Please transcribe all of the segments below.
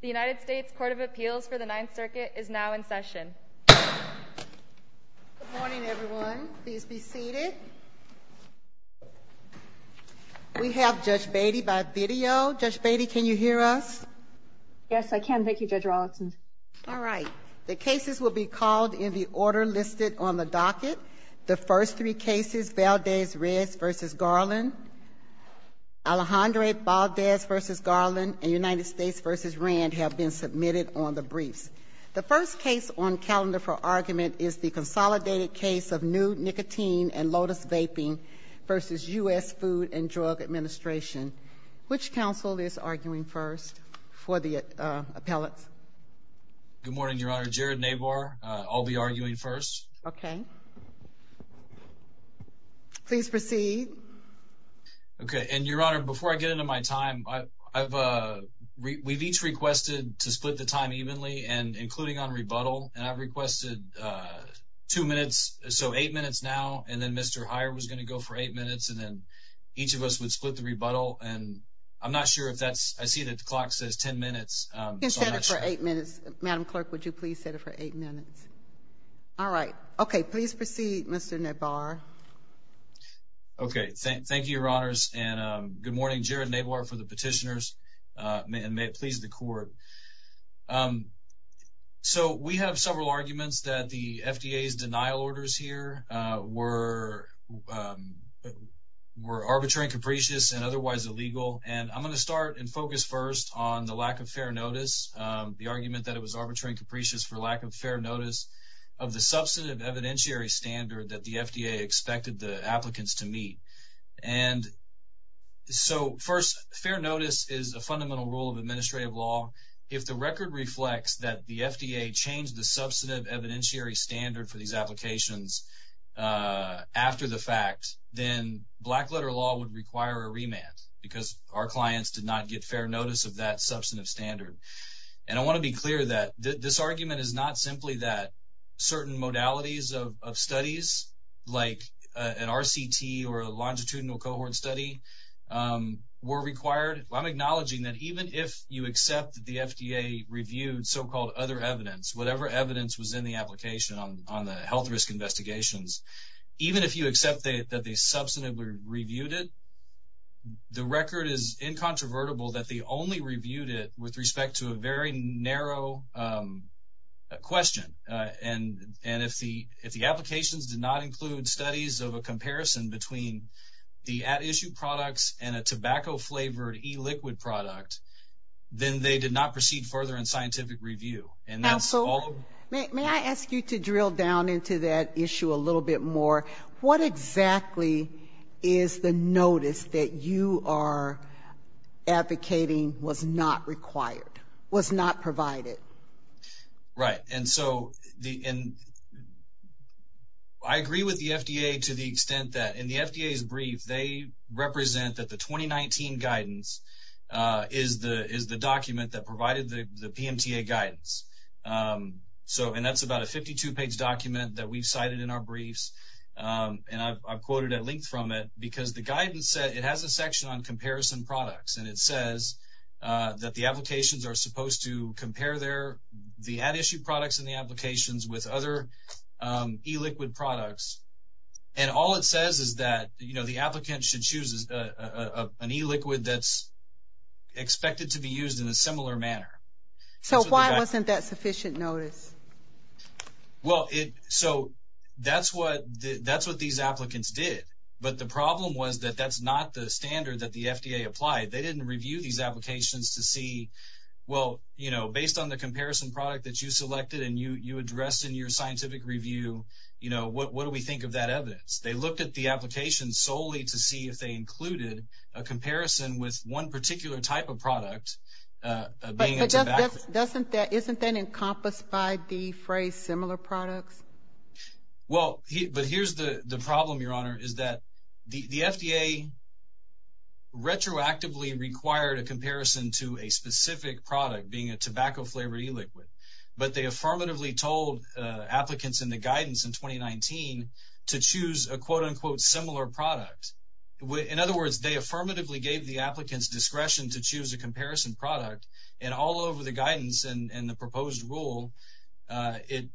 The United States Court of Appeals for the Ninth Circuit is now in session. Good morning, everyone. Please be seated. We have Judge Beatty by video. Judge Beatty, can you hear us? Yes, I can. Thank you, Judge Rollinson. All right. The cases will be called in the order listed on the docket. The first three cases, Valdez-Reds v. Garland, Alejandre Valdez v. Garland, and United States v. Rand have been submitted on the briefs. The first case on calendar for argument is the consolidated case of Nude Nicotine and Lotus Vaping v. U.S. Food and Drug Administration. Which counsel is arguing first for the appellate? Good morning, Your Honor. Jared Nabar. I'll be arguing first. Okay. Please proceed. Okay. And, Your Honor, before I get into my time, we've each requested to split the time evenly, including on rebuttal, and I've requested two minutes, so eight minutes now, and then Mr. Heyer was going to go for eight minutes, and then each of us would split the rebuttal, and I'm not sure if that's – I see that the clock says ten minutes. You can set it for eight minutes. Madam Clerk, would you please set it for eight minutes? All right. Okay. Please proceed, Mr. Nabar. Okay. Thank you, Your Honors, and good morning. Jared Nabar for the petitioners, and may it please the Court. So, we have several arguments that the FDA's denial orders here were arbitrary and capricious and otherwise illegal, and I'm going to start and focus first on the lack of fair notice, the argument that it was arbitrary and capricious for lack of fair notice of the substantive evidentiary standard that the FDA expected the applicants to meet. And so, first, fair notice is a fundamental rule of administrative law. If the record reflects that the FDA changed the substantive evidentiary standard for these applications after the fact, then black-letter law would require a remand because our clients did not get fair notice of that substantive standard. And I want to be clear that this argument is not simply that certain modalities of studies, like an RCT or a longitudinal cohort study, were required. I'm acknowledging that even if you accept that the FDA reviewed so-called other evidence, whatever evidence was in the application on the health risk investigations, even if you accept that they substantively reviewed it, the record is incontrovertible that they only reviewed it with respect to a very narrow question. And if the applications did not include studies of a comparison between the at-issue products and a tobacco-flavored e-liquid product, then they did not proceed further in scientific review. Absolutely. May I ask you to drill down into that issue a little bit more? What exactly is the notice that you are advocating was not required, was not provided? Right. And so I agree with the FDA to the extent that in the FDA's brief, they represent that the 2019 guidance is the document that provided the PMTA guidance. And that's about a 52-page document that we've cited in our briefs. And I've quoted at length from it because the guidance said it has a section on comparison products. And it says that the applications are supposed to compare the at-issue products in the applications with other e-liquid products. And all it says is that, you know, the applicant should choose an e-liquid that's expected to be used in a similar manner. So why wasn't that sufficient notice? Well, so that's what these applicants did. But the problem was that that's not the standard that the FDA applied. They didn't review these applications to see, well, you know, based on the comparison product that you selected and you addressed in your scientific review, you know, what do we think of that evidence? They looked at the application solely to see if they included a comparison with one particular type of product. But isn't that encompassed by the phrase similar products? Well, but here's the problem, Your Honor, is that the FDA retroactively required a comparison to a specific product being a tobacco-flavored e-liquid. But they affirmatively told applicants in the guidance in 2019 to choose a quote-unquote similar product. In other words, they affirmatively gave the applicants discretion to choose a comparison product. And all over the guidance and the proposed rule, it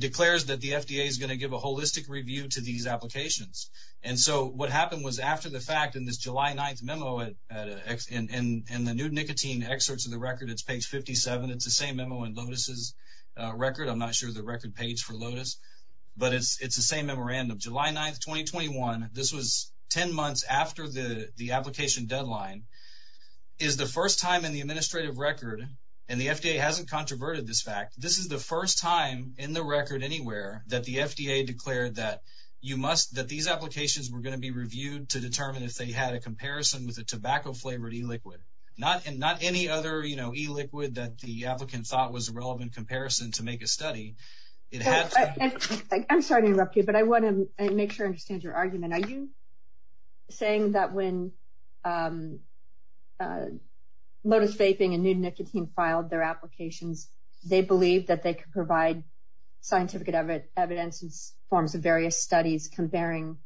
declares that the FDA is going to give a holistic review to these applications. And so what happened was after the fact, in this July 9th memo in the new nicotine excerpts of the record, it's page 57. It's the same memo in Lotus' record. I'm not sure the record page for Lotus. But it's the same memorandum. July 9th, 2021, this was 10 months after the application deadline, is the first time in the administrative record, and the FDA hasn't controverted this fact, this is the first time in the record anywhere that the FDA declared that these applications were going to be reviewed to determine if they had a comparison with a tobacco-flavored e-liquid. Not any other e-liquid that the applicant thought was a relevant comparison to make a study. I'm sorry to interrupt you, but I want to make sure I understand your argument. Are you saying that when Lotus Vaping and New Nicotine filed their applications, they believed that they could provide scientific evidence and forms of various studies comparing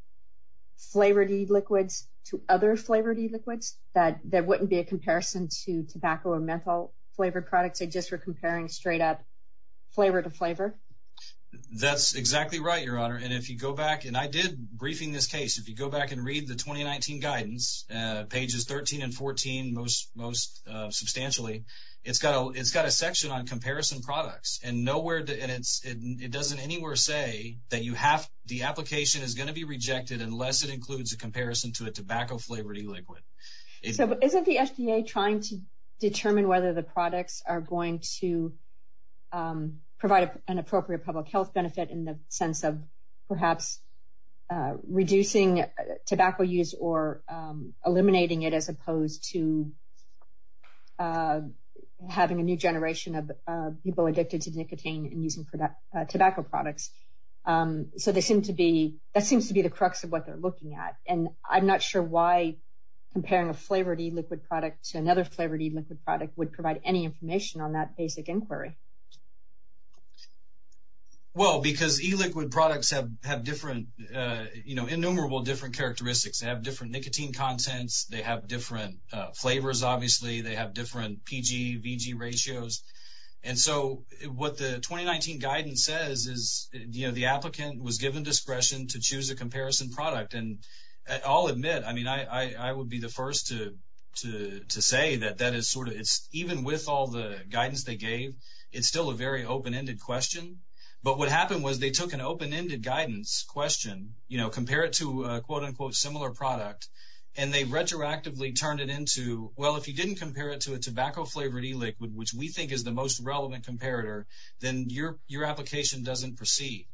flavored e-liquids to other flavored e-liquids? That there wouldn't be a comparison to tobacco or menthol-flavored products, they just were comparing straight up flavor to flavor? That's exactly right, Your Honor. And if you go back, and I did briefing this case, if you go back and read the 2019 guidance, pages 13 and 14, most substantially, it's got a section on comparison products. And it doesn't anywhere say that the application is going to be rejected unless it includes a comparison to a tobacco-flavored e-liquid. So isn't the FDA trying to determine whether the products are going to provide an appropriate public health benefit in the sense of perhaps reducing tobacco use or eliminating it as opposed to having a new generation of people addicted to nicotine and using tobacco products? So that seems to be the crux of what they're looking at. And I'm not sure why comparing a flavored e-liquid product to another flavored e-liquid product would provide any information on that basic inquiry. Well, because e-liquid products have different, you know, innumerable different characteristics. They have different nicotine contents. They have different flavors, obviously. They have different PG, VG ratios. And so what the 2019 guidance says is, you know, the applicant was given discretion to choose a comparison product. And I'll admit, I mean, I would be the first to say that that is sort of, even with all the guidance they gave, it's still a very open-ended question. But what happened was they took an open-ended guidance question, you know, compare it to a quote-unquote similar product, and they retroactively turned it into, well, if you didn't compare it to a tobacco-flavored e-liquid, which we think is the most relevant comparator, then your application doesn't proceed.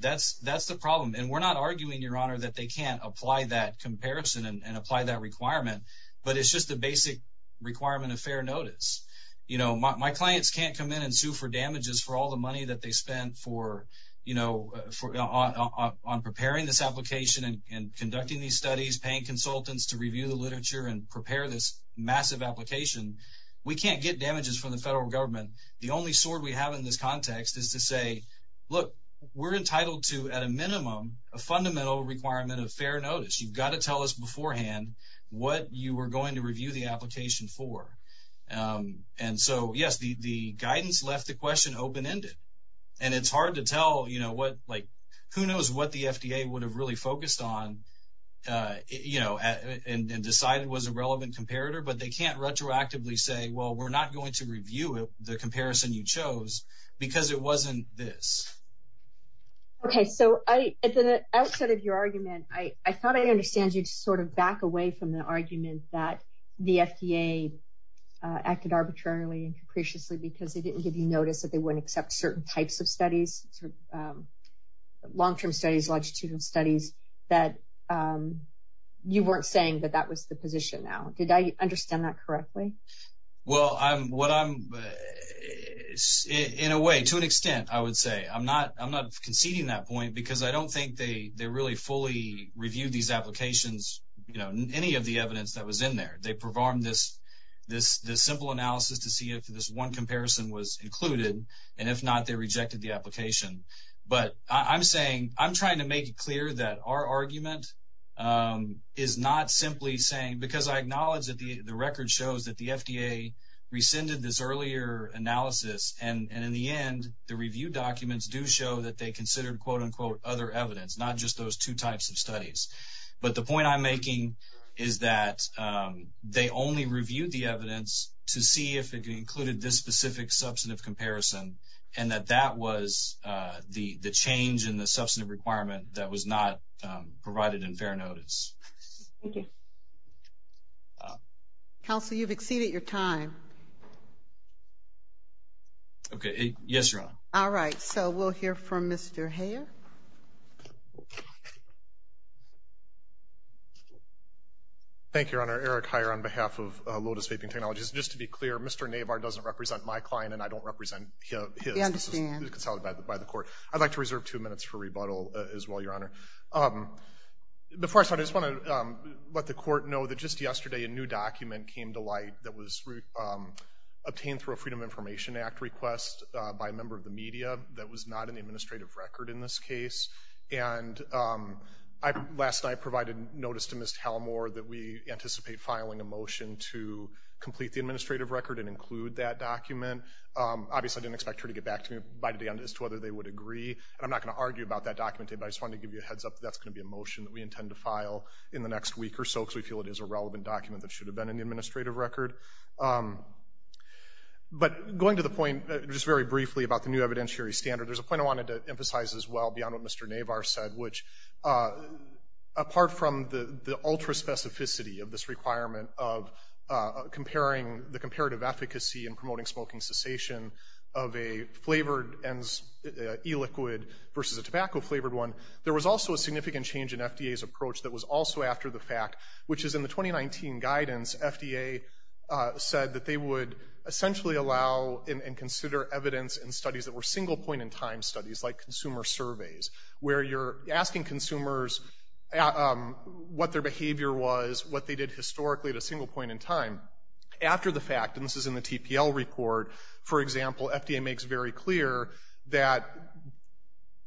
That's the problem. And we're not arguing, Your Honor, that they can't apply that comparison and apply that requirement, but it's just a basic requirement of fair notice. You know, my clients can't come in and sue for damages for all the money that they spent for, you know, on preparing this application and conducting these studies, paying consultants to review the literature and prepare this massive application. We can't get damages from the federal government. The only sword we have in this context is to say, look, we're entitled to, at a minimum, a fundamental requirement of fair notice. You've got to tell us beforehand what you were going to review the application for. And so, yes, the guidance left the question open-ended. And it's hard to tell, you know, what, like, who knows what the FDA would have really focused on, you know, and decided was a relevant comparator, but they can't retroactively say, well, we're not going to review the comparison you chose because it wasn't this. Okay, so at the outset of your argument, I thought I'd understand you to sort of back away from the argument that the FDA acted arbitrarily and capriciously because they didn't give you notice that they wouldn't accept certain types of studies, long-term studies, longitudinal studies, that you weren't saying that that was the position now. Did I understand that correctly? Well, what I'm – in a way, to an extent, I would say. I'm not conceding that point because I don't think they really fully reviewed these applications, you know, any of the evidence that was in there. They performed this simple analysis to see if this one comparison was included, and if not, they rejected the application. But I'm saying – I'm trying to make it clear that our argument is not simply saying – because I acknowledge that the record shows that the FDA rescinded this earlier analysis, and in the end, the review documents do show that they considered, quote-unquote, other evidence, not just those two types of studies. But the point I'm making is that they only reviewed the evidence to see if it included this specific substantive comparison, and that that was the change in the substantive requirement that was not provided in fair notice. Thank you. Counsel, you've exceeded your time. Okay. Yes, Your Honor. All right, so we'll hear from Mr. Heyer. Thank you, Your Honor. Eric Heyer on behalf of Lotus Vaping Technologies. Just to be clear, Mr. Navar doesn't represent my client, and I don't represent his. I understand. This is consolidated by the court. I'd like to reserve two minutes for rebuttal as well, Your Honor. Before I start, I just want to let the court know that just yesterday a new document came to light that was obtained through a Freedom of Information Act request by a member of the media that was not in the administrative record in this case. And last night I provided notice to Ms. Talmore that we anticipate filing a motion to complete the administrative record and include that document. Obviously, I didn't expect her to get back to me by the end as to whether they would agree. And I'm not going to argue about that document today, but I just wanted to give you a heads-up that that's going to be a motion that we intend to file in the next week or so, because we feel it is a relevant document that should have been in the administrative record. But going to the point just very briefly about the new evidentiary standard, there's a point I wanted to emphasize as well beyond what Mr. Navar said, which apart from the ultra-specificity of this requirement of comparing the comparative efficacy in promoting smoking cessation of a flavored e-liquid versus a tobacco-flavored one, there was also a significant change in FDA's approach that was also after the fact, which is in the 2019 guidance, FDA said that they would essentially allow and consider evidence in studies that were single-point-in-time studies like consumer surveys, where you're asking consumers what their behavior was, what they did historically at a single point in time. After the fact, and this is in the TPL record, for example, FDA makes very clear that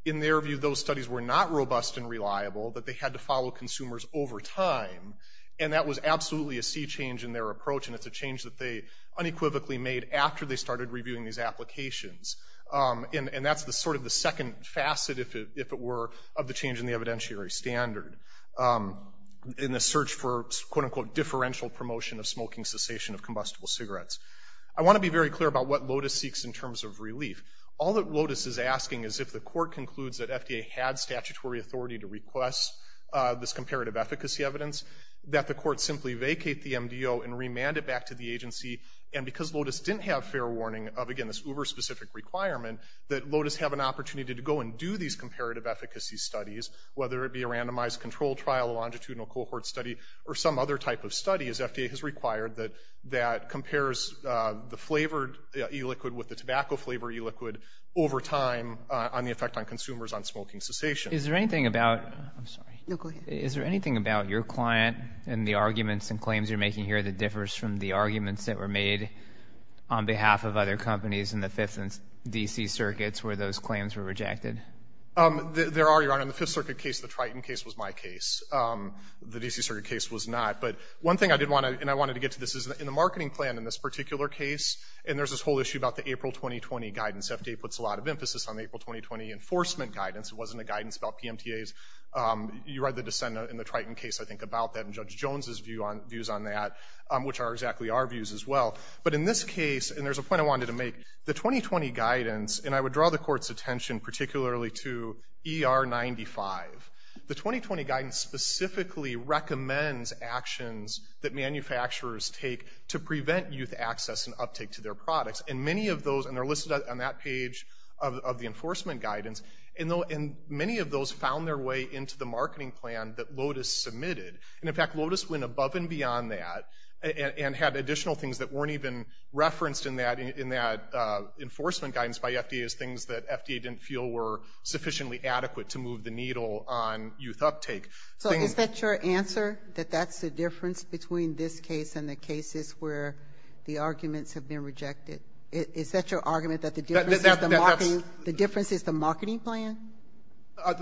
in their view those studies were not robust and reliable, that they had to follow consumers over time, and that was absolutely a sea change in their approach, and it's a change that they unequivocally made after they started reviewing these applications. And that's sort of the second facet, if it were, of the change in the evidentiary standard in the search for, quote-unquote, differential promotion of smoking cessation of combustible cigarettes. I want to be very clear about what LOTUS seeks in terms of relief. All that LOTUS is asking is if the court concludes that FDA had statutory authority to request this comparative efficacy evidence, that the court simply vacate the MDO and remand it back to the agency, and because LOTUS didn't have fair warning of, again, this uber-specific requirement, that LOTUS have an opportunity to go and do these comparative efficacy studies, whether it be a randomized controlled trial, a longitudinal cohort study, or some other type of study, as FDA has required, that compares the flavored e-liquid with the tobacco-flavored e-liquid over time on the effect on consumers on smoking cessation. Is there anything about your client and the arguments and claims you're making here that differs from the arguments that were made on behalf of other companies in the Fifth and D.C. Circuits where those claims were rejected? There are, Your Honor. In the Fifth Circuit case, the Triton case was my case. The D.C. Circuit case was not. But one thing I did want to, and I wanted to get to this, is in the marketing plan in this particular case, and there's this whole issue about the April 2020 guidance. FDA puts a lot of emphasis on the April 2020 enforcement guidance. It wasn't a guidance about PMTAs. You read the dissent in the Triton case, I think, about that and Judge Jones' views on that, which are exactly our views as well. But in this case, and there's a point I wanted to make, the 2020 guidance, and I would draw the Court's attention particularly to ER-95, the 2020 guidance specifically recommends actions that manufacturers take to prevent youth access and uptake to their products. And many of those, and they're listed on that page of the enforcement guidance, and many of those found their way into the marketing plan that LOTUS submitted. And in fact, LOTUS went above and beyond that and had additional things that weren't even referenced in that enforcement guidance by FDA as things that FDA didn't feel were sufficiently adequate to move the needle on youth uptake. So is that your answer, that that's the difference between this case and the cases where the arguments have been rejected? Is that your argument, that the difference is the marketing plan?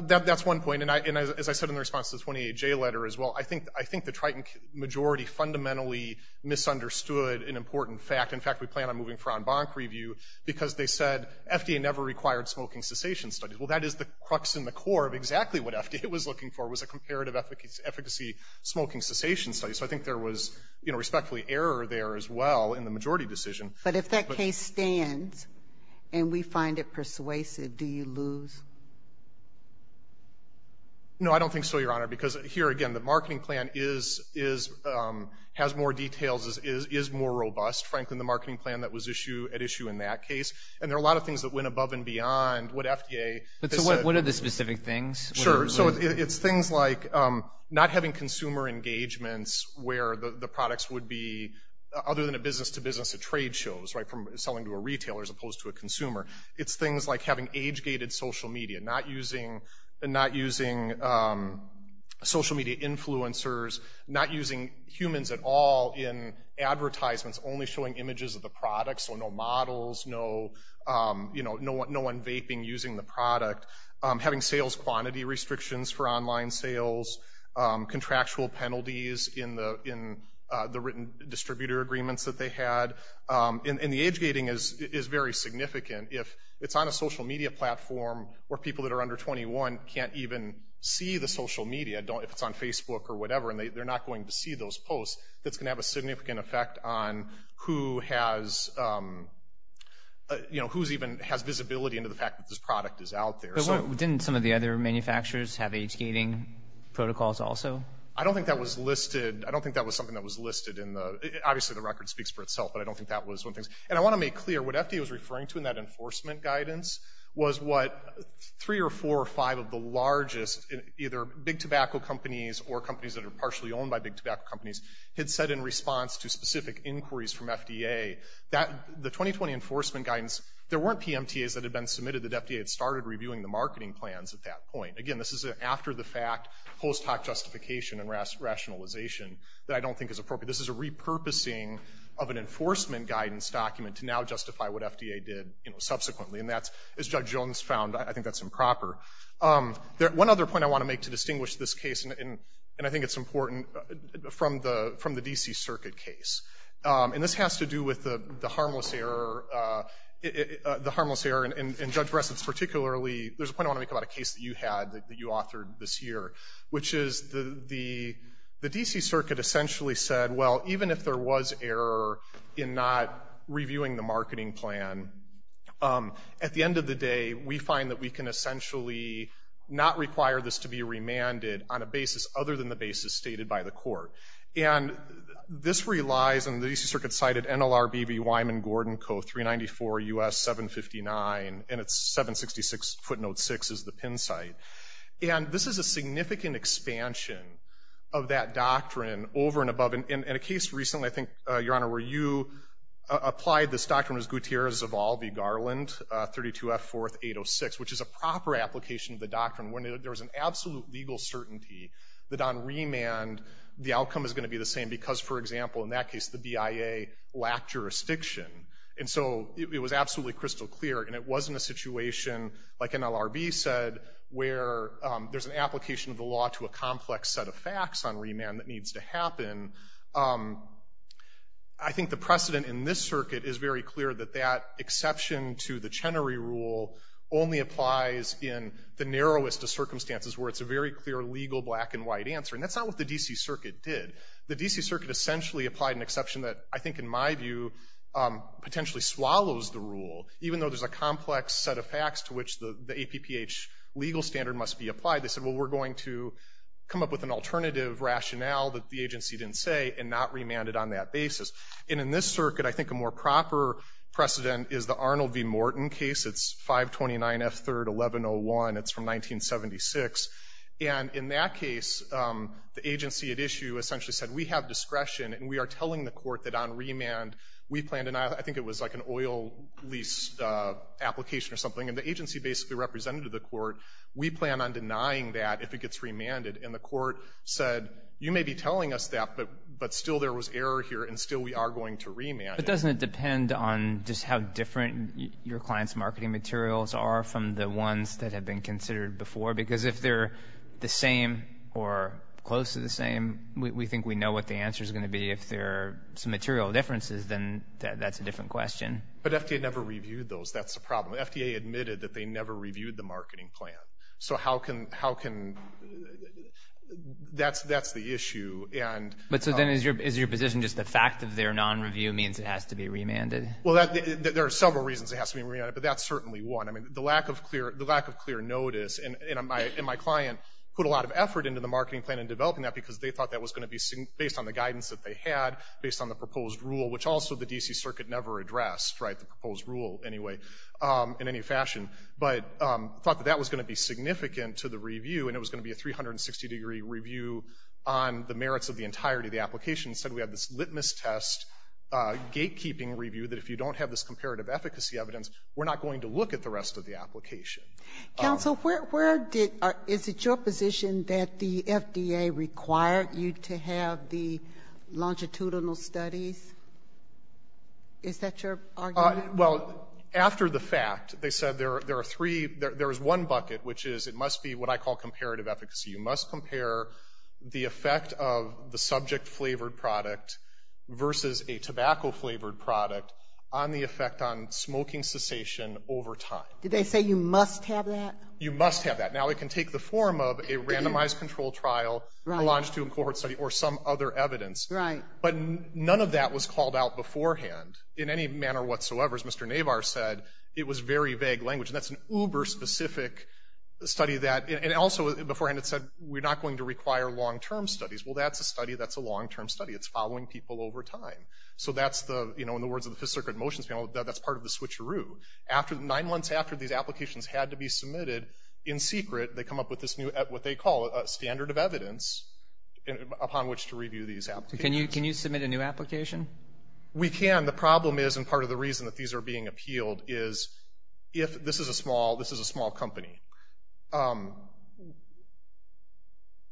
That's one point, and as I said in the response to the 28J letter as well, I think the Triton majority fundamentally misunderstood an important fact. In fact, we plan on moving for en banc review because they said FDA never required smoking cessation studies. Well, that is the crux and the core of exactly what FDA was looking for was a comparative efficacy smoking cessation study. So I think there was respectfully error there as well in the majority decision. But if that case stands and we find it persuasive, do you lose? No, I don't think so, Your Honor, because here again, the marketing plan has more details, is more robust, frankly, than the marketing plan that was at issue in that case. And there are a lot of things that went above and beyond what FDA— So what are the specific things? Sure, so it's things like not having consumer engagements where the products would be, other than a business-to-business trade shows, right, from selling to a retailer as opposed to a consumer. It's things like having age-gated social media, not using social media influencers, not using humans at all in advertisements, only showing images of the products, so no models, no unvaping using the product, having sales quantity restrictions for online sales, contractual penalties in the written distributor agreements that they had. And the age-gating is very significant. If it's on a social media platform where people that are under 21 can't even see the social media, if it's on Facebook or whatever, and they're not going to see those posts, that's going to have a significant effect on who has—you know, who even has visibility into the fact that this product is out there. But didn't some of the other manufacturers have age-gating protocols also? I don't think that was listed. I don't think that was something that was listed in the—obviously, the record speaks for itself, but I don't think that was one of the things. And I want to make clear, what FDA was referring to in that enforcement guidance was what three or four or five of the largest, either big tobacco companies or companies that are partially owned by big tobacco companies, had said in response to specific inquiries from FDA. The 2020 enforcement guidance, there weren't PMTAs that had been submitted that FDA had started reviewing the marketing plans at that point. Again, this is after-the-fact, post-hoc justification and rationalization that I don't think is appropriate. This is a repurposing of an enforcement guidance document to now justify what FDA did subsequently, and that's, as Judge Jones found, I think that's improper. One other point I want to make to distinguish this case, and I think it's important, from the D.C. Circuit case. And this has to do with the harmless error. The harmless error, and Judge Bressett's particularly— there's a point I want to make about a case that you had that you authored this year, which is the D.C. Circuit essentially said, well, even if there was error in not reviewing the marketing plan, at the end of the day, we find that we can essentially not require this to be remanded on a basis other than the basis stated by the court. And this relies, and the D.C. Circuit cited NLRB v. Wyman Gordon Co., 394 U.S. 759, and it's 766 footnote 6 is the pin site. And this is a significant expansion of that doctrine over and above. In a case recently, I think, Your Honor, where you applied this doctrine, it was Gutierrez-Zaval v. Garland, 32 F. 4th. 806, which is a proper application of the doctrine. When there was an absolute legal certainty that on remand, the outcome is going to be the same because, for example, in that case, the BIA lacked jurisdiction. And so it was absolutely crystal clear, and it wasn't a situation, like NLRB said, where there's an application of the law to a complex set of facts on remand that needs to happen. I think the precedent in this circuit is very clear, that that exception to the Chenery Rule only applies in the narrowest of circumstances, where it's a very clear legal black-and-white answer. And that's not what the D.C. Circuit did. The D.C. Circuit essentially applied an exception that I think, in my view, potentially swallows the rule, even though there's a complex set of facts to which the APPH legal standard must be applied. They said, well, we're going to come up with an alternative rationale that the agency didn't say and not remand it on that basis. And in this circuit, I think a more proper precedent is the Arnold v. Morton case. It's 529 F. 3rd. 1101. It's from 1976. And in that case, the agency at issue essentially said, I think it was like an oil lease application or something, and the agency basically represented the court, we plan on denying that if it gets remanded. And the court said, you may be telling us that, but still there was error here, and still we are going to remand it. But doesn't it depend on just how different your client's marketing materials are from the ones that have been considered before? Because if they're the same or close to the same, we think we know what the answer is going to be. If there are some material differences, then that's a different question. But FDA never reviewed those. That's the problem. FDA admitted that they never reviewed the marketing plan. So how can – that's the issue. But so then is your position just the fact that they're non-review means it has to be remanded? Well, there are several reasons it has to be remanded, but that's certainly one. I mean, the lack of clear notice, and my client put a lot of effort into the marketing plan and developing that because they thought that was going to be based on the guidance that they had, based on the proposed rule, which also the D.C. Circuit never addressed, right, the proposed rule anyway, in any fashion. But thought that that was going to be significant to the review, and it was going to be a 360-degree review on the merits of the entirety of the application. Instead, we had this litmus test, gatekeeping review, that if you don't have this comparative efficacy evidence, we're not going to look at the rest of the application. Counsel, where did – is it your position that the FDA required you to have the longitudinal studies? Is that your argument? Well, after the fact, they said there are three – there is one bucket, which is it must be what I call comparative efficacy. You must compare the effect of the subject-flavored product versus a tobacco-flavored product on the effect on smoking cessation over time. Did they say you must have that? You must have that. Now it can take the form of a randomized control trial, a longitudinal cohort study, or some other evidence. Right. But none of that was called out beforehand in any manner whatsoever. As Mr. Navar said, it was very vague language. And that's an uber-specific study that – and also beforehand it said, we're not going to require long-term studies. Well, that's a study that's a long-term study. It's following people over time. So that's the – you know, in the words of the Fifth Circuit Motions Panel, that's part of the switcheroo. After – nine months after these applications had to be submitted, in secret, they come up with this new – what they call a standard of evidence upon which to review these applications. Can you submit a new application? We can. The problem is, and part of the reason that these are being appealed, is if – this is a small – this is a small company.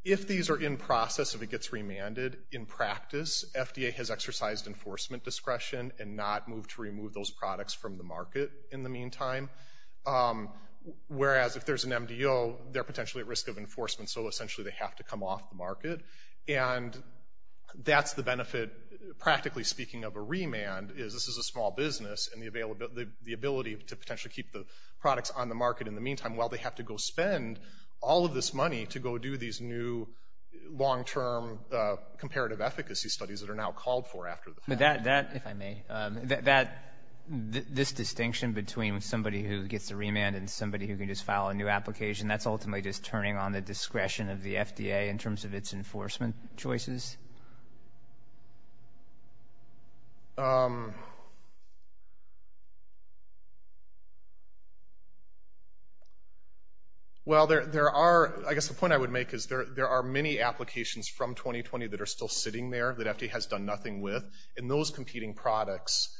If these are in process, if it gets remanded, in practice, FDA has exercised enforcement discretion and not moved to remove those products from the market in the meantime. Whereas, if there's an MDO, they're potentially at risk of enforcement, so essentially they have to come off the market. And that's the benefit, practically speaking, of a remand, is this is a small business and the ability to potentially keep the products on the market in the meantime while they have to go spend all of this money to go do these new long-term comparative efficacy studies that are now called for after the fact. But that – if I may – this distinction between somebody who gets a remand and somebody who can just file a new application, that's ultimately just turning on the discretion of the FDA in terms of its enforcement choices? Well, there are – I guess the point I would make is there are many applications from 2020 that are still sitting there that FDA has done nothing with, and those competing products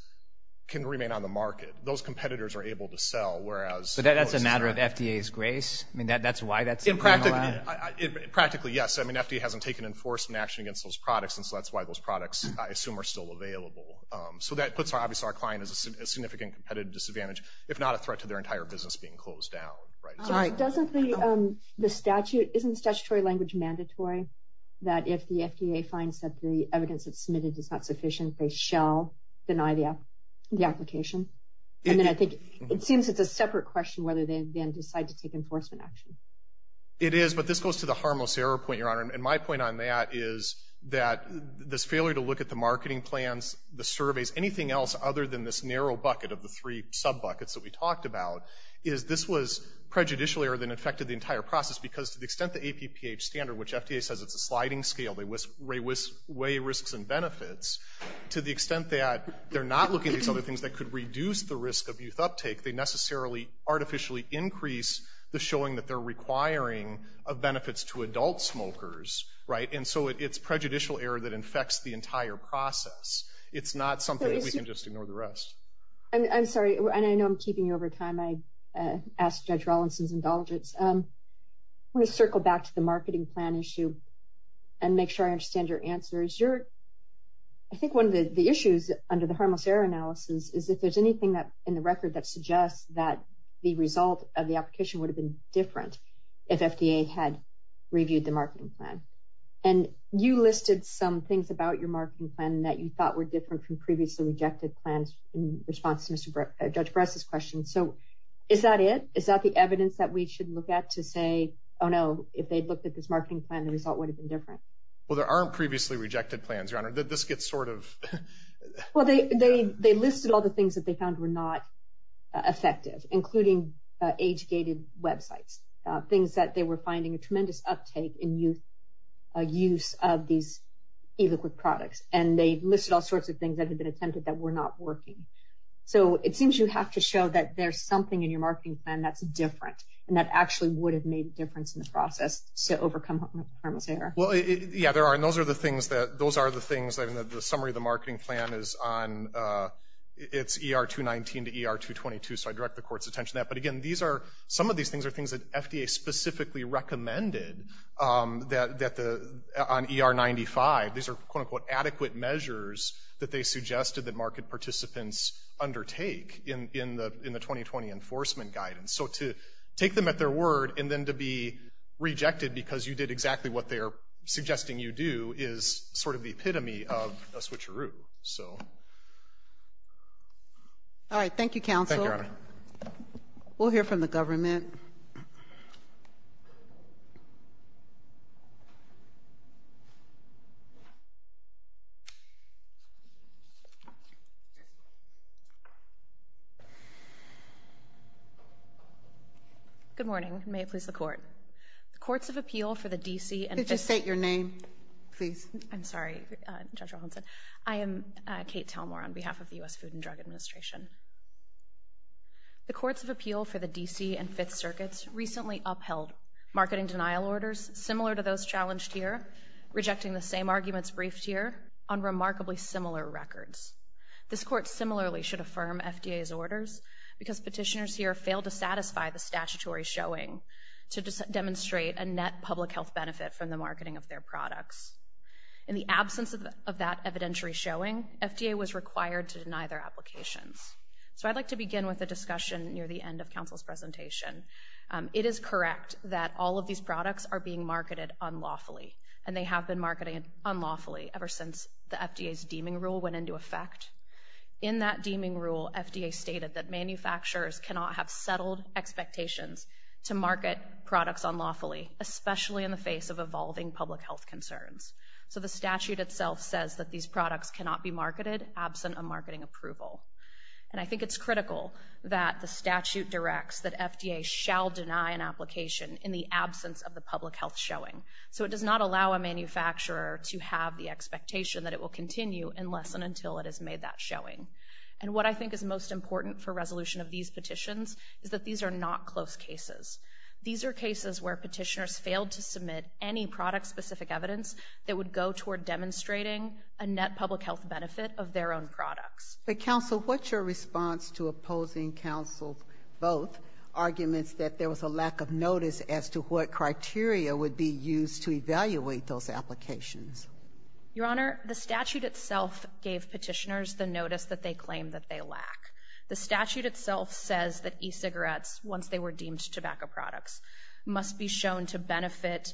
can remain on the market. Those competitors are able to sell, whereas – But that's a matter of FDA's grace? I mean, that's why that's a remand? Practically, yes. I mean, FDA hasn't taken enforcement action against those products, and so that's why those products, I assume, are still available. So that puts, obviously, our client at a significant competitive disadvantage, if not a threat to their entire business being closed down. Doesn't the statute – isn't statutory language mandatory that if the FDA finds that the evidence that's submitted is not sufficient, they shall deny the application? And then I think it seems it's a separate question whether they then decide to take enforcement action. It is, but this goes to the harmless error point, Your Honor, and my point on that is that this failure to look at the marketing plans, the surveys, anything else other than this narrow bucket of the three sub-buckets that we talked about, is this was prejudicial error that affected the entire process because to the extent the APPH standard, which FDA says it's a sliding scale, they weigh risks and benefits, to the extent that they're not looking at these other things that could reduce the risk of youth uptake, they necessarily artificially increase the showing that they're requiring of benefits to adult smokers, right? And so it's prejudicial error that infects the entire process. It's not something that we can just ignore the rest. I'm sorry, and I know I'm keeping you over time. I asked Judge Rawlinson's indulgence. I want to circle back to the marketing plan issue and make sure I understand your answer. I think one of the issues under the harmless error analysis is if there's anything in the record that suggests that the result of the application would have been different if FDA had reviewed the marketing plan. And you listed some things about your marketing plan that you thought were different from previously rejected plans in response to Judge Bress's question. So is that it? Is that the evidence that we should look at to say, oh, no, if they'd looked at this marketing plan, the result would have been different? Well, there aren't previously rejected plans, Your Honor. This gets sort of… Well, they listed all the things that they found were not effective, including age-gated websites, things that they were finding a tremendous uptake in youth use of these illiquid products, and they listed all sorts of things that had been attempted that were not working. So it seems you have to show that there's something in your marketing plan that's different and that actually would have made a difference in the process to overcome harmless error. Well, yeah, there are. And those are the things that the summary of the marketing plan is on. It's ER-219 to ER-222, so I direct the Court's attention to that. But, again, some of these things are things that FDA specifically recommended on ER-95. These are, quote-unquote, adequate measures that they suggested that market participants undertake in the 2020 enforcement guidance. So to take them at their word and then to be rejected because you did exactly what they are suggesting you do is sort of the epitome of a switcheroo. All right. Thank you, counsel. Thank you, Your Honor. We'll hear from the government. Good morning. May it please the Court. The Courts of Appeal for the D.C. and... Could you state your name, please? I'm sorry, Judge Wilhelmsen. I am Kate Telmore on behalf of the U.S. Food and Drug Administration. The Courts of Appeal for the D.C. and Fifth Circuits recently upheld marketing denial orders similar to those challenged here, rejecting the same arguments briefed here, on remarkably similar records. This Court similarly should affirm FDA's orders because petitioners here failed to satisfy the statutory showing to demonstrate a net public health benefit from the marketing of their products. In the absence of that evidentiary showing, FDA was required to deny their applications. So I'd like to begin with a discussion near the end of counsel's presentation. It is correct that all of these products are being marketed unlawfully, and they have been marketed unlawfully ever since the FDA's deeming rule went into effect. In that deeming rule, FDA stated that manufacturers cannot have settled expectations to market products unlawfully, especially in the face of evolving public health concerns. So the statute itself says that these products cannot be marketed absent a marketing approval. And I think it's critical that the statute directs that FDA shall deny an application in the absence of the public health showing. So it does not allow a manufacturer to have the expectation that it will continue unless and until it has made that showing. And what I think is most important for resolution of these petitions is that these are not close cases. These are cases where petitioners failed to submit any product-specific evidence that would go toward demonstrating a net public health benefit of their own products. But, counsel, what's your response to opposing counsel's both arguments that there was a lack of notice as to what criteria would be used to evaluate those applications? Your Honor, the statute itself gave petitioners the notice that they claimed that they lack. The statute itself says that e-cigarettes, once they were deemed tobacco products, must be shown to benefit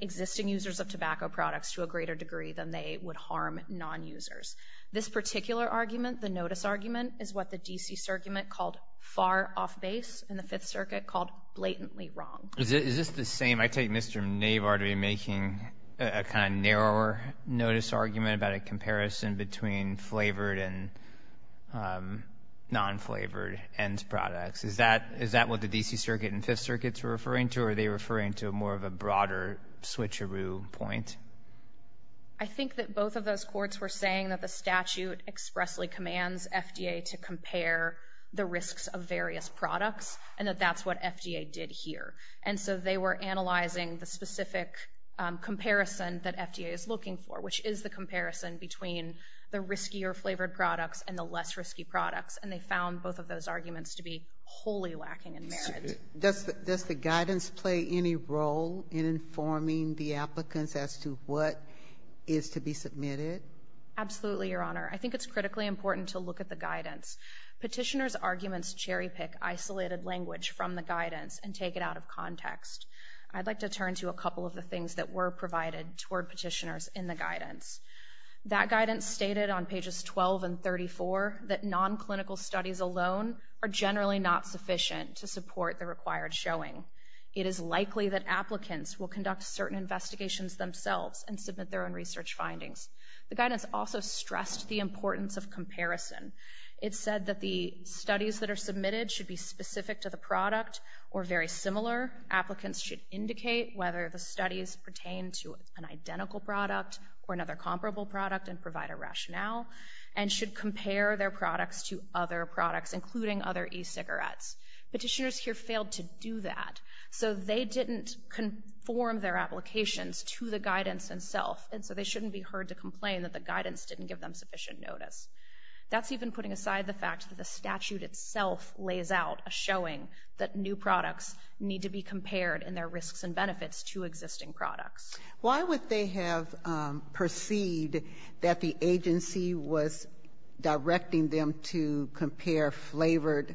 existing users of tobacco products to a greater degree than they would harm non-users. This particular argument, the notice argument, is what the D.C. Circuit called far off base and the Fifth Circuit called blatantly wrong. Is this the same? I take Mr. Navar to be making a kind of narrower notice argument about a comparison between flavored and non-flavored end products. Is that what the D.C. Circuit and Fifth Circuit are referring to, or are they referring to more of a broader switcheroo point? I think that both of those courts were saying that the statute expressly commands FDA to compare the risks of various products and that that's what FDA did here. And so they were analyzing the specific comparison that FDA is looking for, which is the comparison between the riskier flavored products and the less risky products, and they found both of those arguments to be wholly lacking in merit. Does the guidance play any role in informing the applicants as to what is to be submitted? Absolutely, Your Honor. Petitioners' arguments cherry-pick isolated language from the guidance and take it out of context. I'd like to turn to a couple of the things that were provided toward petitioners in the guidance. That guidance stated on pages 12 and 34 that non-clinical studies alone are generally not sufficient to support the required showing. It is likely that applicants will conduct certain investigations themselves and submit their own research findings. The guidance also stressed the importance of comparison. It said that the studies that are submitted should be specific to the product or very similar. Applicants should indicate whether the studies pertain to an identical product or another comparable product and provide a rationale and should compare their products to other products, including other e-cigarettes. Petitioners here failed to do that, so they didn't conform their applications to the guidance itself, and so they shouldn't be heard to complain that the guidance didn't give them sufficient notice. That's even putting aside the fact that the statute itself lays out a showing that new products need to be compared in their risks and benefits to existing products. Why would they have perceived that the agency was directing them to compare flavored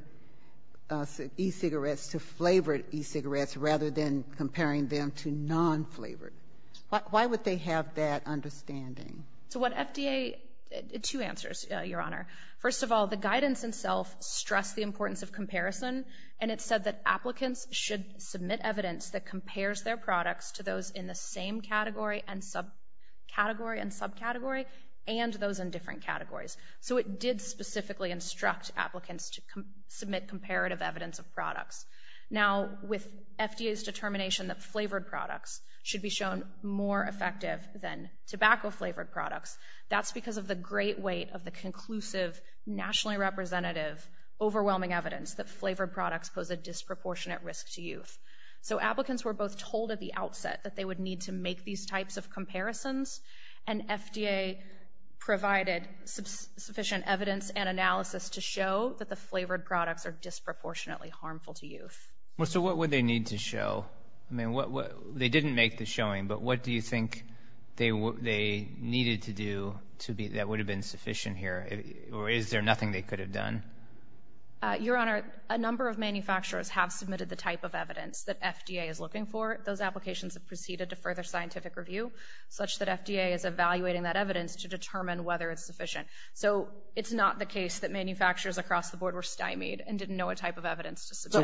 e-cigarettes to flavored e-cigarettes rather than comparing them to non-flavored? Why would they have that understanding? Two answers, Your Honor. First of all, the guidance itself stressed the importance of comparison, and it said that applicants should submit evidence that compares their products to those in the same category and subcategory and those in different categories. So it did specifically instruct applicants to submit comparative evidence of products. Now, with FDA's determination that flavored products should be shown more effective than tobacco-flavored products, that's because of the great weight of the conclusive, nationally representative, overwhelming evidence that flavored products pose a disproportionate risk to youth. So applicants were both told at the outset that they would need to make these types of comparisons, and FDA provided sufficient evidence and analysis to show that the flavored products are disproportionately harmful to youth. So what would they need to show? I mean, they didn't make the showing, but what do you think they needed to do that would have been sufficient here, or is there nothing they could have done? Your Honor, a number of manufacturers have submitted the type of evidence that FDA is looking for. Those applications have proceeded to further scientific review, such that FDA is evaluating that evidence to determine whether it's sufficient. So it's not the case that manufacturers across the board were stymied and didn't know what type of evidence to submit. So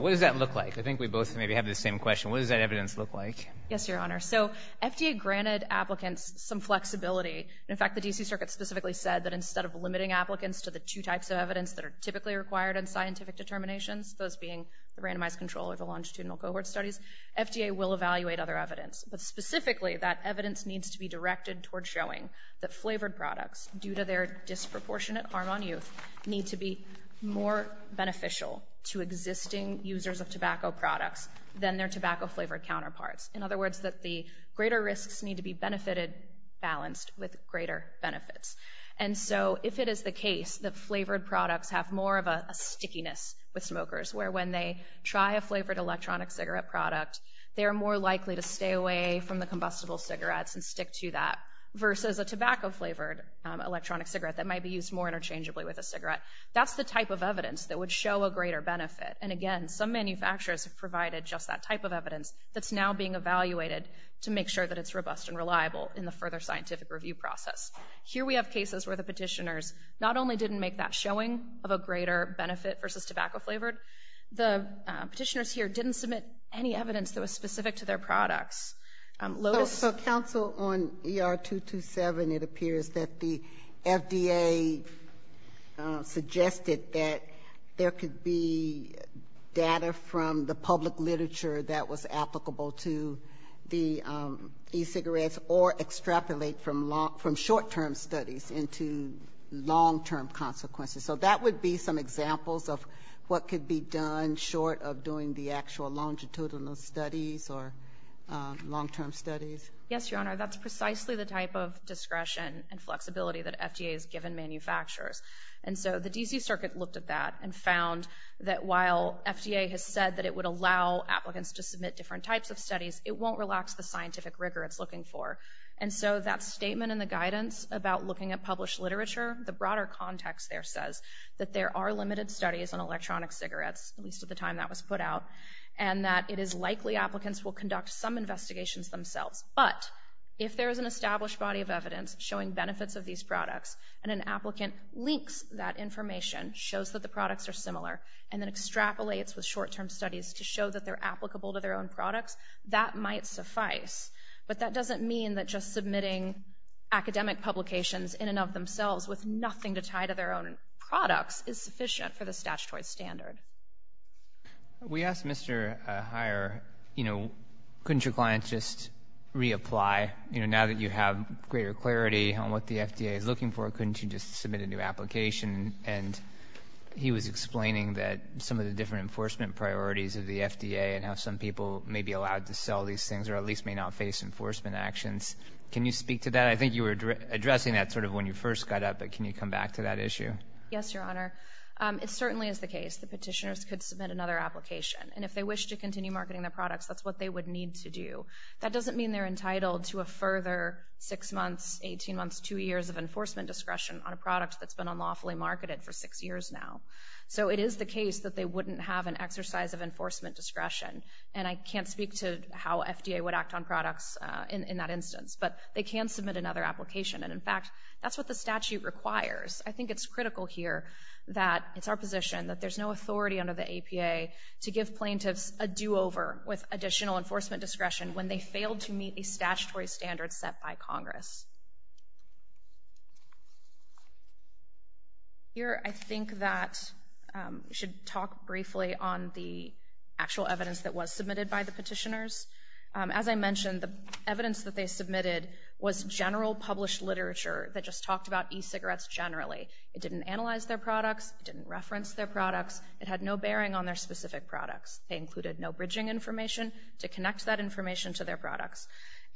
what does that look like? I think we both maybe have the same question. What does that evidence look like? Yes, Your Honor. So FDA granted applicants some flexibility. In fact, the D.C. Circuit specifically said that instead of limiting applicants to the two types of evidence that are typically required in scientific determinations, those being the randomized control or the longitudinal cohort studies, FDA will evaluate other evidence. But specifically, that evidence needs to be directed toward showing that flavored products, due to their disproportionate harm on youth, need to be more beneficial to existing users of tobacco products than their tobacco-flavored counterparts. In other words, that the greater risks need to be benefited balanced with greater benefits. And so if it is the case that flavored products have more of a stickiness with smokers, where when they try a flavored electronic cigarette product, they are more likely to stay away from the combustible cigarettes and stick to that versus a tobacco-flavored electronic cigarette that might be used more interchangeably with a cigarette, that's the type of evidence that would show a greater benefit. And again, some manufacturers have provided just that type of evidence that's now being evaluated to make sure that it's robust and reliable in the further scientific review process. Here we have cases where the petitioners not only didn't make that showing of a greater benefit versus tobacco-flavored, the petitioners here didn't submit any evidence that was specific to their products. So, counsel, on ER-227, it appears that the FDA suggested that there could be data from the public literature that was applicable to the e-cigarettes or extrapolate from short-term studies into long-term consequences. So that would be some examples of what could be done short of doing the actual longitudinal studies or long-term studies? Yes, Your Honor, that's precisely the type of discretion and flexibility that FDA has given manufacturers. And so the D.C. Circuit looked at that and found that while FDA has said that it would allow applicants to submit different types of studies, it won't relax the scientific rigor it's looking for. And so that statement in the guidance about looking at published literature, the broader context there says that there are limited studies on electronic cigarettes, at least at the time that was put out, and that it is likely applicants will conduct some investigations themselves. But if there is an established body of evidence showing benefits of these products and an applicant links that information, shows that the products are similar, and then extrapolates with short-term studies to show that they're applicable to their own products, that might suffice. But that doesn't mean that just submitting academic publications in and of themselves with nothing to tie to their own products is sufficient for the statutory standard. We asked Mr. Heyer, you know, couldn't your client just reapply? You know, now that you have greater clarity on what the FDA is looking for, couldn't you just submit a new application? And he was explaining that some of the different enforcement priorities of the FDA and how some people may be allowed to sell these things or at least may not face enforcement actions. Can you speak to that? I think you were addressing that sort of when you first got up, but can you come back to that issue? Yes, Your Honor. It certainly is the case that petitioners could submit another application, and if they wish to continue marketing their products, that's what they would need to do. That doesn't mean they're entitled to a further 6 months, 18 months, 2 years of enforcement discretion on a product that's been unlawfully marketed for 6 years now. So it is the case that they wouldn't have an exercise of enforcement discretion, and I can't speak to how FDA would act on products in that instance. But they can submit another application, and in fact, that's what the statute requires. I think it's critical here that it's our position that there's no authority under the APA to give plaintiffs a do-over with additional enforcement discretion when they fail to meet the statutory standards set by Congress. Here I think that we should talk briefly on the actual evidence that was submitted by the petitioners. As I mentioned, the evidence that they submitted was general published literature that just talked about e-cigarettes generally. It didn't analyze their products. It didn't reference their products. It had no bearing on their specific products. They included no bridging information to connect that information to their products,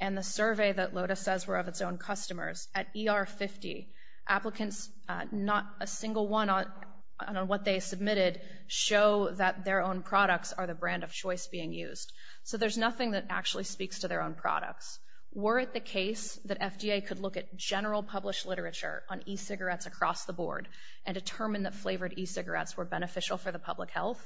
and the survey that LOTUS says were of its own customers. At ER50, applicants, not a single one on what they submitted show that their own products are the brand of choice being used. So there's nothing that actually speaks to their own products. Were it the case that FDA could look at general published literature on e-cigarettes across the board and determine that flavored e-cigarettes were beneficial for the public health,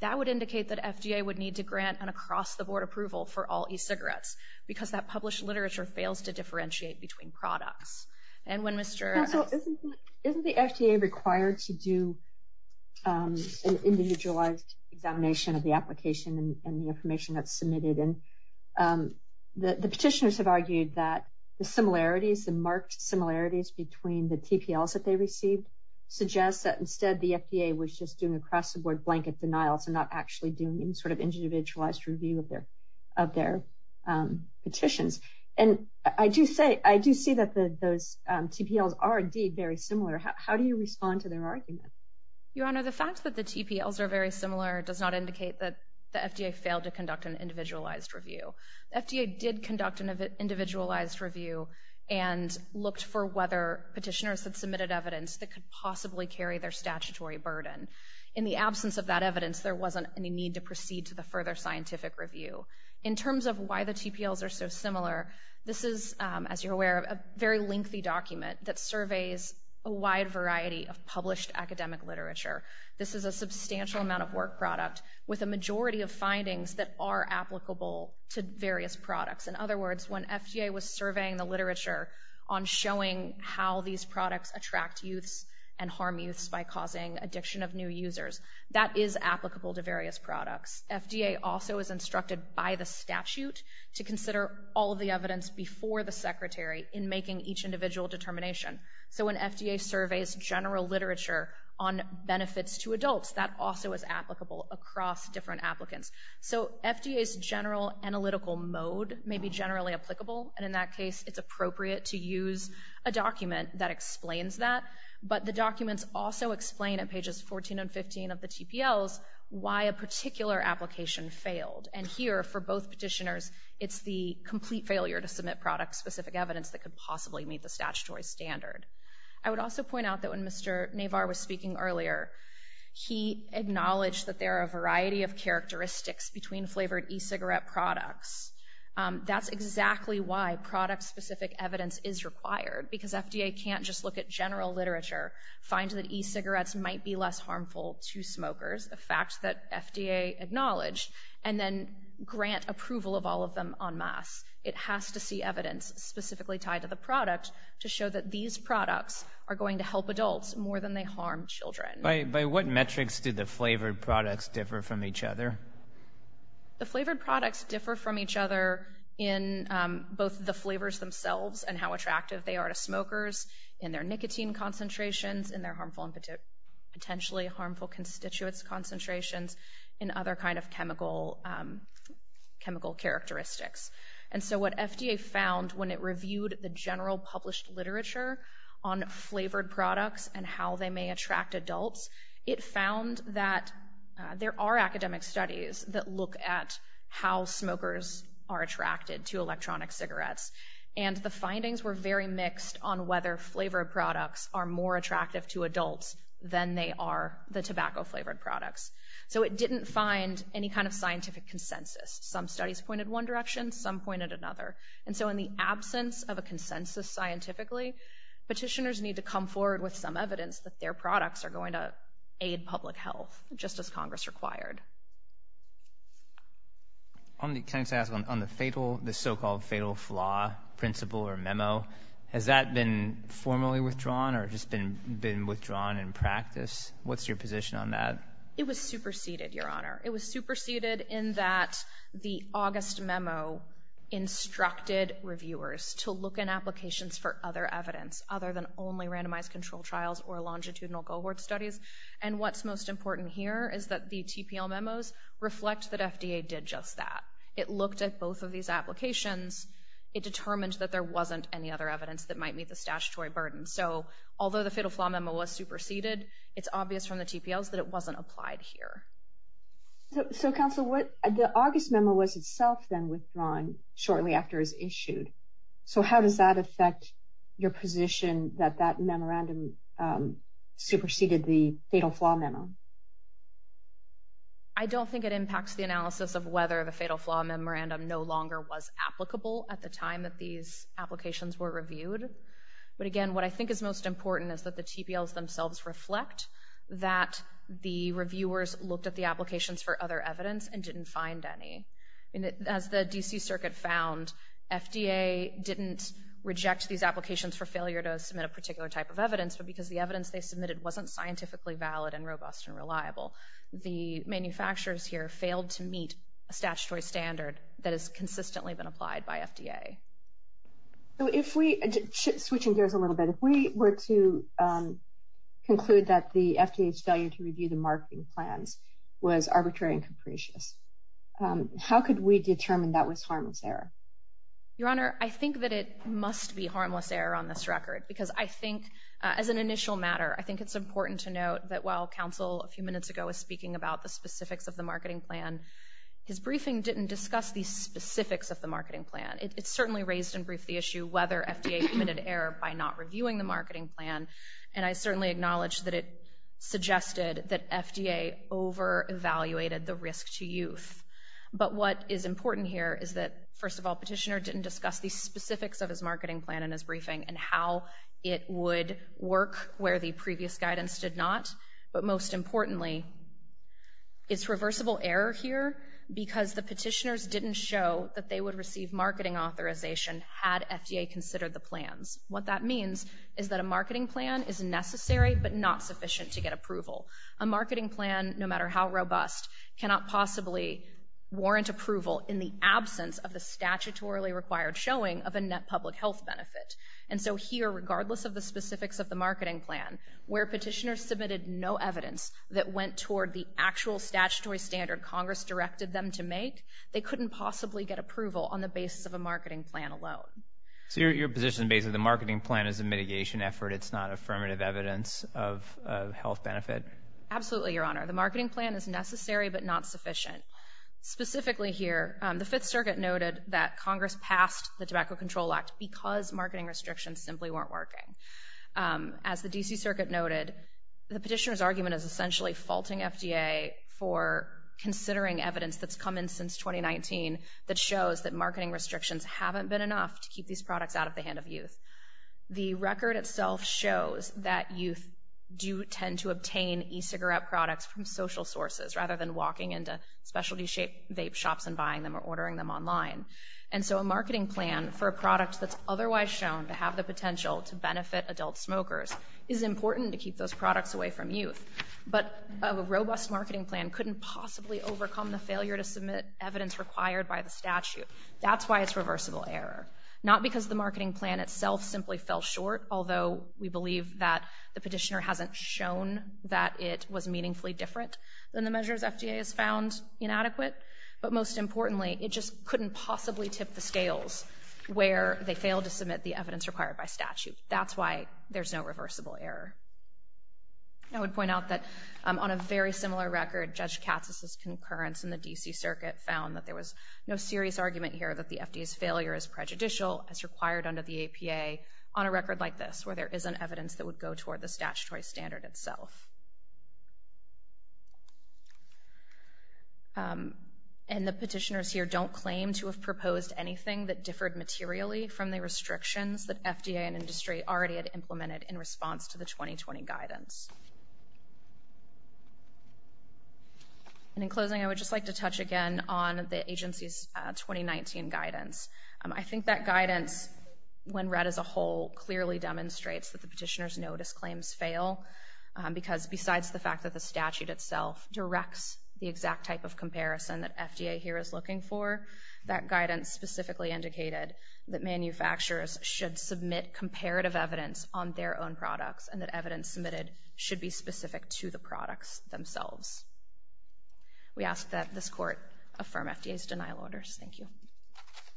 that would indicate that FDA would need to grant an across-the-board approval for all e-cigarettes because that published literature fails to differentiate between products. Isn't the FDA required to do an individualized examination of the application and the information that's submitted? And the petitioners have argued that the similarities, the marked similarities between the TPLs that they received suggest that instead the FDA was just doing across-the-board blanket denials and not actually doing any sort of individualized review of their petitions. And I do see that those TPLs are indeed very similar. How do you respond to their argument? Your Honor, the fact that the TPLs are very similar does not indicate that the FDA failed to conduct an individualized review. The FDA did conduct an individualized review and looked for whether petitioners had submitted evidence that could possibly carry their statutory burden. In the absence of that evidence, there wasn't any need to proceed to the further scientific review. In terms of why the TPLs are so similar, this is, as you're aware, a very lengthy document that surveys a wide variety of published academic literature. This is a substantial amount of work product with a majority of findings that are applicable to various products. In other words, when FDA was surveying the literature on showing how these products attract youths and harm youths by causing addiction of new users, that is applicable to various products. FDA also is instructed by the statute to consider all of the evidence before the Secretary in making each individual determination. So when FDA surveys general literature on benefits to adults, that also is applicable across different applicants. So FDA's general analytical mode may be generally applicable. And in that case, it's appropriate to use a document that explains that. But the documents also explain at pages 14 and 15 of the TPLs why a particular application failed. And here, for both petitioners, it's the complete failure to submit product-specific evidence that could possibly meet the statutory standard. I would also point out that when Mr. Navar was speaking earlier, he acknowledged that there are a variety of characteristics between flavored e-cigarette products. That's exactly why product-specific evidence is required, because FDA can't just look at general literature, find that e-cigarettes might be less harmful to smokers. A fact that FDA acknowledged. And then grant approval of all of them en masse. It has to see evidence specifically tied to the product to show that these products are going to help adults more than they harm children. By what metrics do the flavored products differ from each other? The flavored products differ from each other in both the flavors themselves and how attractive they are to smokers, in their nicotine concentrations, in their potentially harmful constituents concentrations, and other kind of chemical characteristics. And so what FDA found when it reviewed the general published literature on flavored products and how they may attract adults, it found that there are academic studies that look at how smokers are attracted to electronic cigarettes. And the findings were very mixed on whether flavored products are more attractive to adults than they are the tobacco-flavored products. So it didn't find any kind of scientific consensus. Some studies pointed one direction, some pointed another. And so in the absence of a consensus scientifically, petitioners need to come forward with some evidence that their products are going to aid public health, just as Congress required. Can I just ask, on the so-called fatal flaw principle or memo, has that been formally withdrawn or just been withdrawn in practice? What's your position on that? It was superseded, Your Honor. It was superseded in that the August memo instructed reviewers to look in applications for other evidence, other than only randomized control trials or longitudinal cohort studies. And what's most important here is that the TPL memos reflect that FDA did just that. It looked at both of these applications. It determined that there wasn't any other evidence that might meet the statutory burden. So although the fatal flaw memo was superseded, it's obvious from the TPLs that it wasn't applied here. So, Counsel, the August memo was itself then withdrawn shortly after it was issued. So how does that affect your position that that memorandum superseded the fatal flaw memo? I don't think it impacts the analysis of whether the fatal flaw memorandum no longer was applicable at the time that these applications were reviewed. But again, what I think is most important is that the TPLs themselves reflect that the reviewers looked at the applications for other evidence and didn't find any. As the D.C. Circuit found, FDA didn't reject these applications for failure to submit a particular type of evidence, but because the evidence they submitted wasn't scientifically valid and robust and reliable. The manufacturers here failed to meet a statutory standard that has consistently been applied by FDA. Switching gears a little bit, if we were to conclude that the FDA's failure to review the marketing plans was arbitrary and capricious, how could we determine that was harmless error? Your Honor, I think that it must be harmless error on this record because I think, as an initial matter, I think it's important to note that while Counsel a few minutes ago was speaking about the specifics of the marketing plan, his briefing didn't discuss the specifics of the marketing plan. It certainly raised and briefed the issue whether FDA committed error by not reviewing the marketing plan, and I certainly acknowledge that it suggested that FDA over-evaluated the risk to youth. But what is important here is that, first of all, Petitioner didn't discuss the specifics of his marketing plan in his briefing and how it would work where the previous guidance did not. But most importantly, it's reversible error here because the Petitioners didn't show that they would receive marketing authorization had FDA considered the plans. What that means is that a marketing plan is necessary but not sufficient to get approval. A marketing plan, no matter how robust, cannot possibly warrant approval in the absence of the statutorily required showing of a net public health benefit. And so here, regardless of the specifics of the marketing plan, where Petitioner submitted no evidence that went toward the actual statutory standard Congress directed them to make, they couldn't possibly get approval on the basis of a marketing plan alone. So your position is basically the marketing plan is a mitigation effort, it's not affirmative evidence of a health benefit? Absolutely, Your Honor. The marketing plan is necessary but not sufficient. Specifically here, the Fifth Circuit noted that Congress passed the Tobacco Control Act because marketing restrictions simply weren't working. As the D.C. Circuit noted, the Petitioners' argument is essentially faulting FDA for considering evidence that's come in since 2019 that shows that marketing restrictions haven't been enough to keep these products out of the hand of youth. The record itself shows that youth do tend to obtain e-cigarette products from social sources rather than walking into specialty vape shops and buying them or ordering them online. And so a marketing plan for a product that's otherwise shown to have the potential to benefit adult smokers is important to keep those products away from youth. But a robust marketing plan couldn't possibly overcome the failure to submit evidence required by the statute. That's why it's reversible error. Not because the marketing plan itself simply fell short, although we believe that the Petitioner hasn't shown that it was meaningfully different than the measures FDA has found inadequate, but most importantly, it just couldn't possibly tip the scales where they failed to submit the evidence required by statute. That's why there's no reversible error. I would point out that on a very similar record, Judge Katsas' concurrence in the D.C. Circuit found that there was no serious argument here that the FDA's failure is prejudicial as required under the APA on a record like this, where there isn't evidence that would go toward the statutory standard itself. And the Petitioners here don't claim to have proposed anything that differed materially from the restrictions that FDA and industry already had implemented in response to the 2020 guidance. And in closing, I would just like to touch again on the agency's 2019 guidance. I think that guidance, when read as a whole, clearly demonstrates that the Petitioner's notice claims fail because, besides the fact that the statute itself directs the exact type of comparison that FDA here is looking for, that guidance specifically indicated that manufacturers should submit comparative evidence on their own products and that evidence submitted should be specific to the products themselves. We ask that this Court affirm FDA's denial orders. Thank you.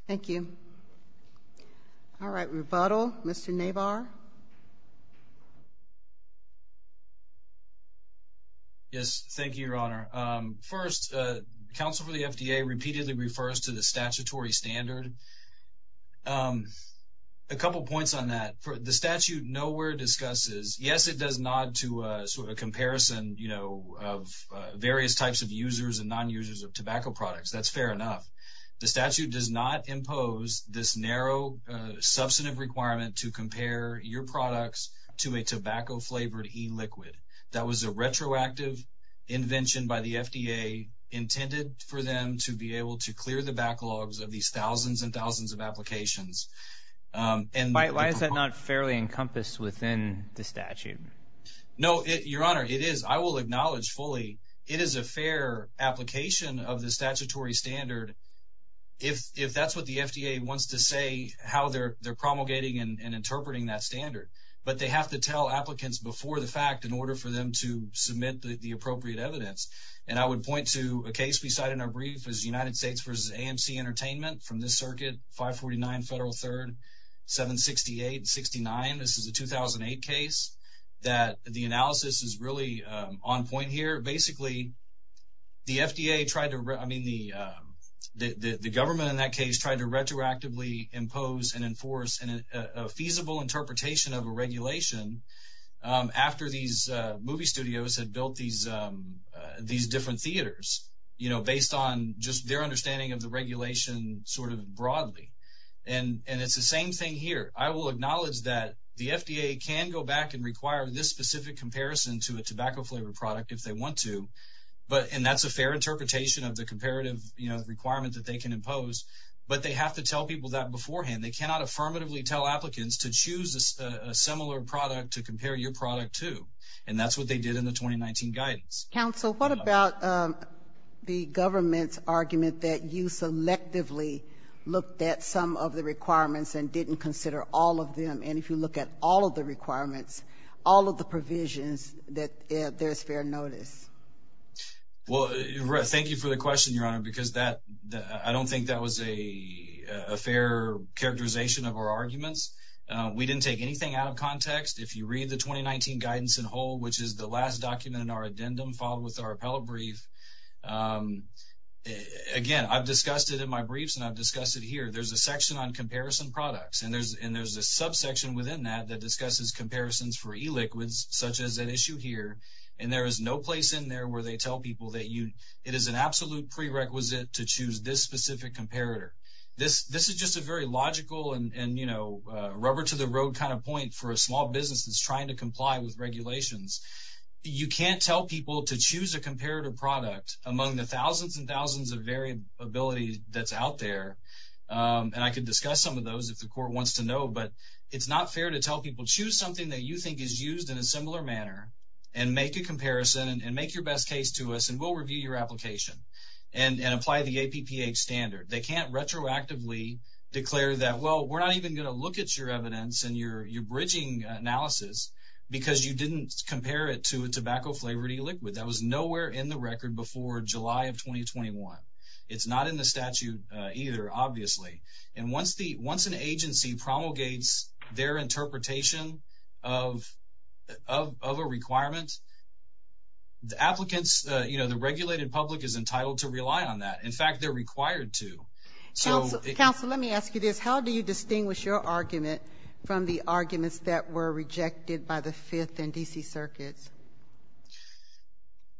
Thank you. All right, rebuttal. Mr. Nabar? Yes, thank you, Your Honor. First, counsel for the FDA repeatedly refers to the statutory standard. A couple points on that. The statute nowhere discusses, yes, it does nod to a comparison of various types of users and non-users of tobacco products. That's fair enough. The statute does not impose this narrow substantive requirement to compare your products to a tobacco-flavored e-liquid. That was a retroactive invention by the FDA intended for them to be able to clear the backlogs of these thousands and thousands of applications. Why is that not fairly encompassed within the statute? No, Your Honor, it is. I will acknowledge fully it is a fair application of the statutory standard if that's what the FDA wants to say, how they're promulgating and interpreting that standard. But they have to tell applicants before the fact in order for them to submit the appropriate evidence. And I would point to a case we cited in our brief as United States v. AMC Entertainment from this circuit, 549 Federal 3rd, 768 and 69. This is a 2008 case that the analysis is really on point here. Basically, the FDA tried to, I mean, the government in that case tried to retroactively impose and enforce a feasible interpretation of a regulation after these movie studios had built these different theaters, you know, based on just their understanding of the regulation sort of broadly. And it's the same thing here. I will acknowledge that the FDA can go back and require this specific comparison to a tobacco-flavored product if they want to, and that's a fair interpretation of the comparative requirement that they can impose, but they have to tell people that beforehand. And they cannot affirmatively tell applicants to choose a similar product to compare your product to. And that's what they did in the 2019 guidance. Counsel, what about the government's argument that you selectively looked at some of the requirements and didn't consider all of them? And if you look at all of the requirements, all of the provisions, that there's fair notice? Well, thank you for the question, Your Honor, because I don't think that was a fair characterization of our arguments. We didn't take anything out of context. If you read the 2019 guidance in whole, which is the last document in our addendum filed with our appellate brief, again, I've discussed it in my briefs and I've discussed it here. There's a section on comparison products, and there's a subsection within that that discusses comparisons for e-liquids, such as an issue here, and there is no place in there where they tell people that it is an absolute prerequisite to choose this specific comparator. This is just a very logical and rubber-to-the-road kind of point for a small business that's trying to comply with regulations. You can't tell people to choose a comparator product among the thousands and thousands of variability that's out there. And I could discuss some of those if the court wants to know, but it's not fair to tell people, choose something that you think is used in a similar manner and make a comparison and make your best case to us, and we'll review your application and apply the APPH standard. They can't retroactively declare that, well, we're not even going to look at your evidence and your bridging analysis because you didn't compare it to a tobacco-flavored e-liquid. That was nowhere in the record before July of 2021. It's not in the statute either, obviously. And once an agency promulgates their interpretation of a requirement, the applicants, you know, the regulated public is entitled to rely on that. In fact, they're required to. Counsel, let me ask you this. How do you distinguish your argument from the arguments that were rejected by the Fifth and D.C. Circuits?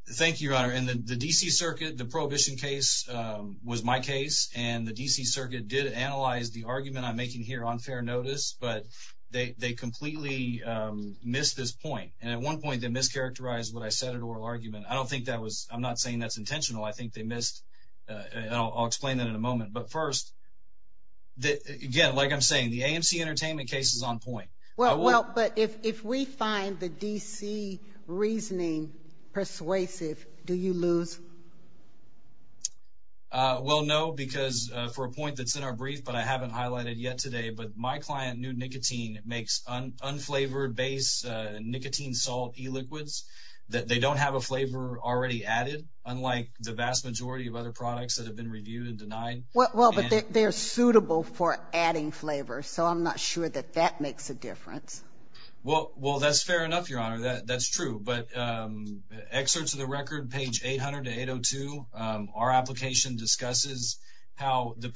Thank you, Your Honor. In the D.C. Circuit, the prohibition case was my case, and the D.C. Circuit did analyze the argument I'm making here on fair notice, but they completely missed this point. And at one point they mischaracterized what I said in oral argument. I don't think that was – I'm not saying that's intentional. I think they missed – and I'll explain that in a moment. But first, again, like I'm saying, the AMC Entertainment case is on point. Well, but if we find the D.C. reasoning persuasive, do you lose? Well, no, because for a point that's in our brief but I haven't highlighted yet today, but my client, New Nicotine, makes unflavored base nicotine salt e-liquids. They don't have a flavor already added, unlike the vast majority of other products that have been reviewed and denied. Well, but they're suitable for adding flavor, so I'm not sure that that makes a difference. Well, that's fair enough, Your Honor, that's true. But excerpts of the record, page 800 to 802, our application discusses how the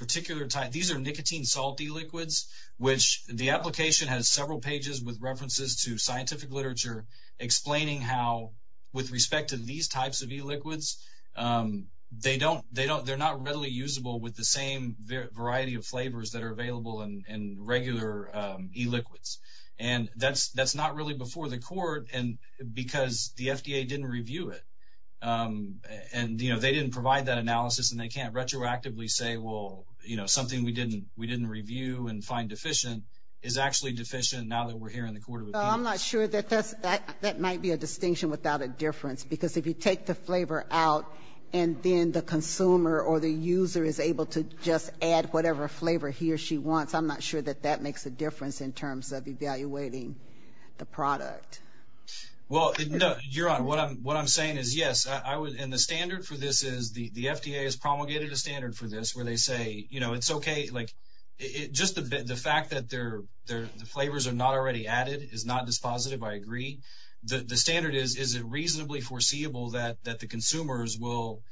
e-liquids, which the application has several pages with references to scientific literature explaining how, with respect to these types of e-liquids, they're not readily usable with the same variety of flavors that are available in regular e-liquids. And that's not really before the court because the FDA didn't review it. And they didn't provide that analysis, and they can't retroactively say, well, something we didn't review and find deficient is actually deficient now that we're here in the court of appeals. I'm not sure that that might be a distinction without a difference because if you take the flavor out and then the consumer or the user is able to just add whatever flavor he or she wants, I'm not sure that that makes a difference in terms of evaluating the product. Well, Your Honor, what I'm saying is, yes, and the standard for this is the FDA has promulgated a standard for this where they say, you know, it's okay. Just the fact that the flavors are not already added is not dispositive. I agree. The standard is, is it reasonably foreseeable that the consumers will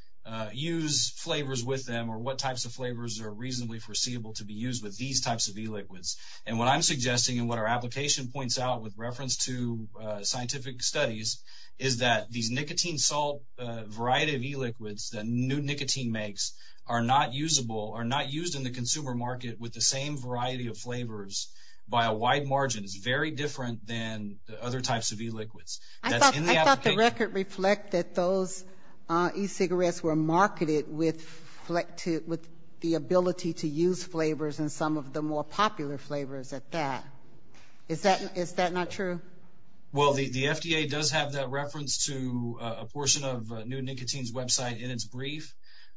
use flavors with them or what types of flavors are reasonably foreseeable to be used with these types of e-liquids? And what I'm suggesting and what our application points out with reference to scientific studies is that these nicotine salt variety of e-liquids that new nicotine makes are not usable, are not used in the consumer market with the same variety of flavors by a wide margin. It's very different than other types of e-liquids. I thought the record reflected those e-cigarettes were marketed with the ability to use flavors and some of the more popular flavors at that. Is that not true? Well, the FDA does have that reference to a portion of new nicotine's website in its brief.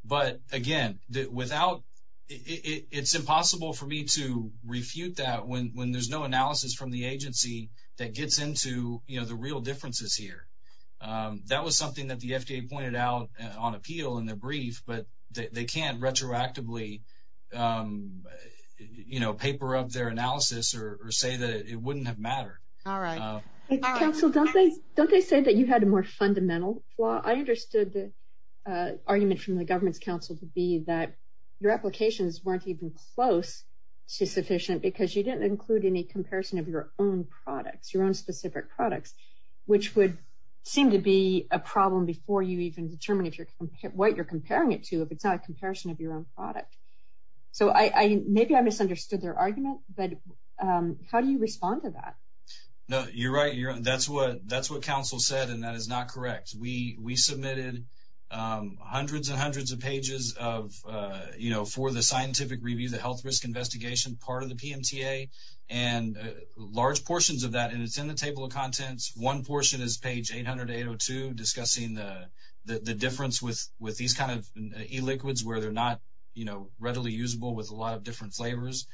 But, again, without, it's impossible for me to refute that when there's no analysis from the agency that gets into, you know, the real differences here. That was something that the FDA pointed out on appeal in their brief, but they can't retroactively, you know, paper up their analysis or say that it wouldn't have mattered. All right. Counsel, don't they say that you had a more fundamental flaw? I understood the argument from the government's counsel to be that your applications weren't even close to sufficient because you didn't include any comparison of your own products, your own specific products, which would seem to be a problem before you even determine what you're comparing it to, if it's not a comparison of your own product. So maybe I misunderstood their argument, but how do you respond to that? No, you're right. That's what counsel said, and that is not correct. We submitted hundreds and hundreds of pages of, you know, for the scientific review, the health risk investigation part of the PMTA, and large portions of that, and it's in the table of contents. One portion is page 800-802 discussing the difference with these kind of e-liquids where they're not, you know, readily usable with a lot of different flavors.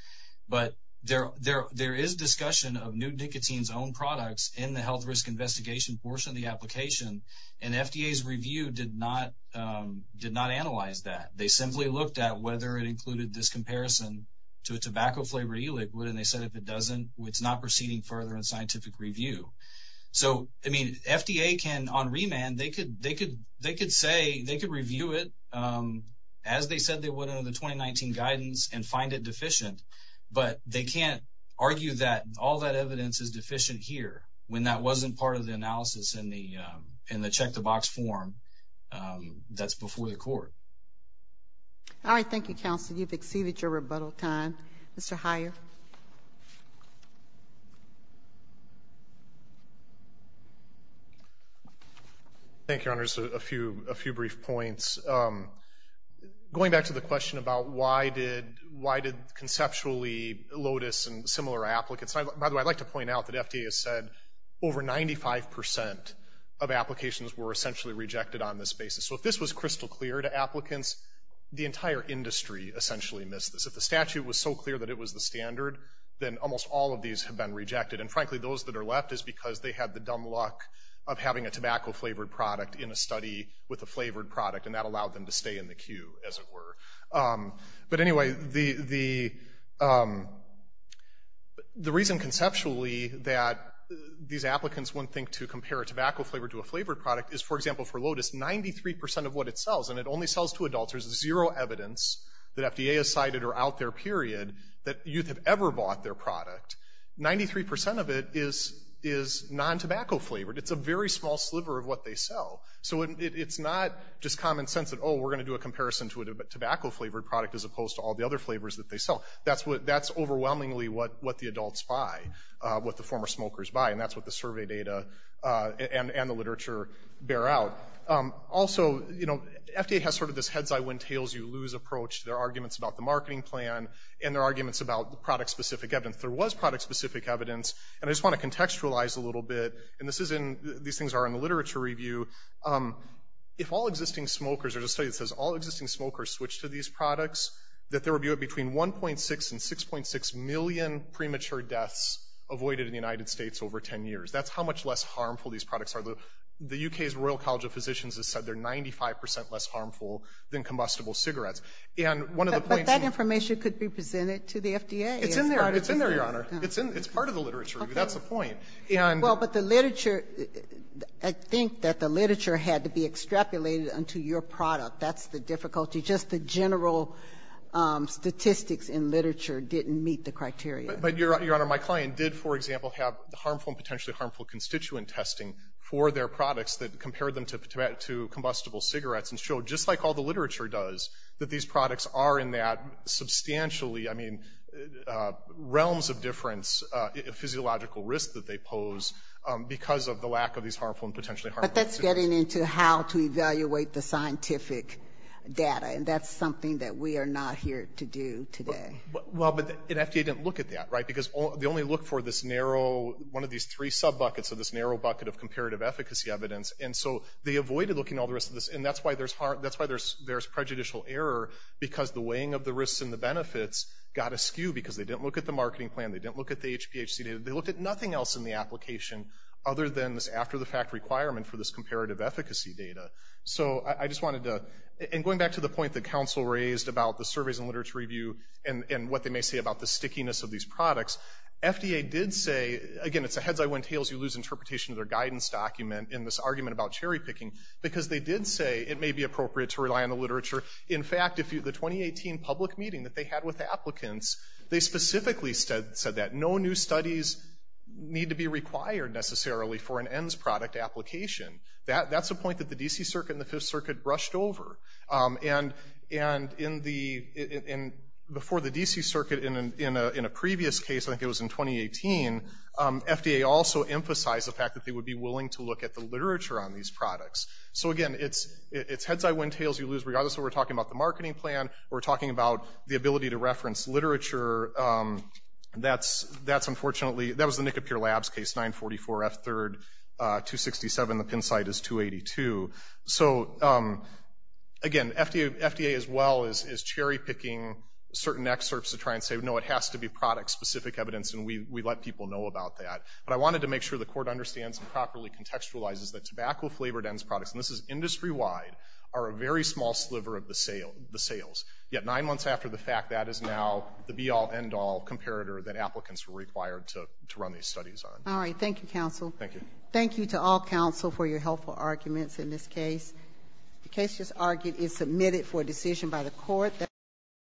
But there is discussion of new nicotine's own products in the health risk investigation portion of the application, and FDA's review did not analyze that. They simply looked at whether it included this comparison to a tobacco-flavored e-liquid, and they said if it doesn't, it's not proceeding further in scientific review. So, I mean, FDA can, on remand, they could say, they could review it as they said they would under the 2019 guidance and find it deficient, but they can't argue that all that evidence is deficient here when that wasn't part of the analysis in the check-the-box form that's before the court. All right. Thank you, counsel. You've exceeded your rebuttal time. Mr. Heyer. Thank you, Your Honors. A few brief points. Going back to the question about why did conceptually Lotus and similar applicants, by the way, I'd like to point out that FDA has said over 95 percent of applications were essentially rejected on this basis. So if this was crystal clear to applicants, the entire industry essentially missed this. If the statute was so clear that it was the standard, then almost all of these have been rejected. And frankly, those that are left is because they had the dumb luck of having a tobacco-flavored product in a study with a flavored product, and that allowed them to stay in the queue, as it were. But anyway, the reason conceptually that these applicants wouldn't think to compare a tobacco-flavored to a flavored product is, for example, for Lotus, 93 percent of what it sells, and it only sells to adults. There's zero evidence that FDA has cited or out there, period, that youth have ever bought their product. Ninety-three percent of it is non-tobacco-flavored. It's a very small sliver of what they sell. So it's not just common sense that, oh, we're going to do a comparison to a tobacco-flavored product as opposed to all the other flavors that they sell. That's overwhelmingly what the adults buy, what the former smokers buy, and that's what the survey data and the literature bear out. Also, FDA has sort of this heads-eye-win-tails-you-lose approach. There are arguments about the marketing plan, and there are arguments about product-specific evidence. There was product-specific evidence, and I just want to contextualize a little bit, and these things are in the literature review. If all existing smokers, there's a study that says all existing smokers switch to these products, that there would be between 1.6 and 6.6 million premature deaths avoided in the United States over 10 years. That's how much less harmful these products are. The U.K.'s Royal College of Physicians has said they're 95 percent less harmful than combustible cigarettes. And one of the points of the study was that the study was done in the U.K. Ginsburg. But that information could be presented to the FDA. It's in there. It's in there, Your Honor. It's part of the literature review. That's the point. Well, but the literature, I think that the literature had to be extrapolated onto your product. That's the difficulty. Just the general statistics in literature didn't meet the criteria. But, Your Honor, my client did, for example, have harmful and potentially harmful constituent testing for their products that compared them to combustible cigarettes and showed, just like all the literature does, that these products are in that substantially, I mean, realms of difference physiological risk that they pose because of the lack of these harmful and potentially harmful substances. But that's getting into how to evaluate the scientific data. And that's something that we are not here to do today. Well, but the FDA didn't look at that, right? Because they only look for this narrow, one of these three sub-buckets of this narrow bucket of comparative efficacy evidence. And so they avoided looking at all the rest of this. And that's why there's prejudicial error because the weighing of the risks and the benefits got askew because they didn't look at the marketing plan. They didn't look at the HPHC data. They looked at nothing else in the application other than this after-the-fact requirement for this comparative efficacy data. So I just wanted to, and going back to the point that counsel raised about the surveys and literature review and what they may say about the stickiness of these products, FDA did say, again, it's a heads-I-win-tails-you-lose interpretation of their guidance document in this argument about cherry-picking because they did say it may be appropriate to rely on the literature. In fact, the 2018 public meeting that they had with applicants, they specifically said that. No new studies need to be required necessarily for an ENDS product application. That's a point that the D.C. Circuit and the Fifth Circuit brushed over. And before the D.C. Circuit in a previous case, I think it was in 2018, FDA also emphasized the fact that they would be willing to look at the literature on these products. So, again, it's heads-I-win-tails-you-lose regardless of what we're talking about, the marketing plan or we're talking about the ability to reference literature. That's unfortunately, that was the Nickapier Labs case, 944F3, 267, the pin site is 282. So, again, FDA as well is cherry-picking certain excerpts to try and say, no, it has to be product-specific evidence, and we let people know about that. But I wanted to make sure the court understands and properly contextualizes that tobacco-flavored ENDS products, and this is industry-wide, are a very small sliver of the sales. Yet, nine months after the fact, that is now the be-all, end-all comparator that applicants were required to run these studies on. All right, thank you, counsel. Thank you. Thank you to all counsel for your helpful arguments in this case. The case just argued is submitted for decision by the court.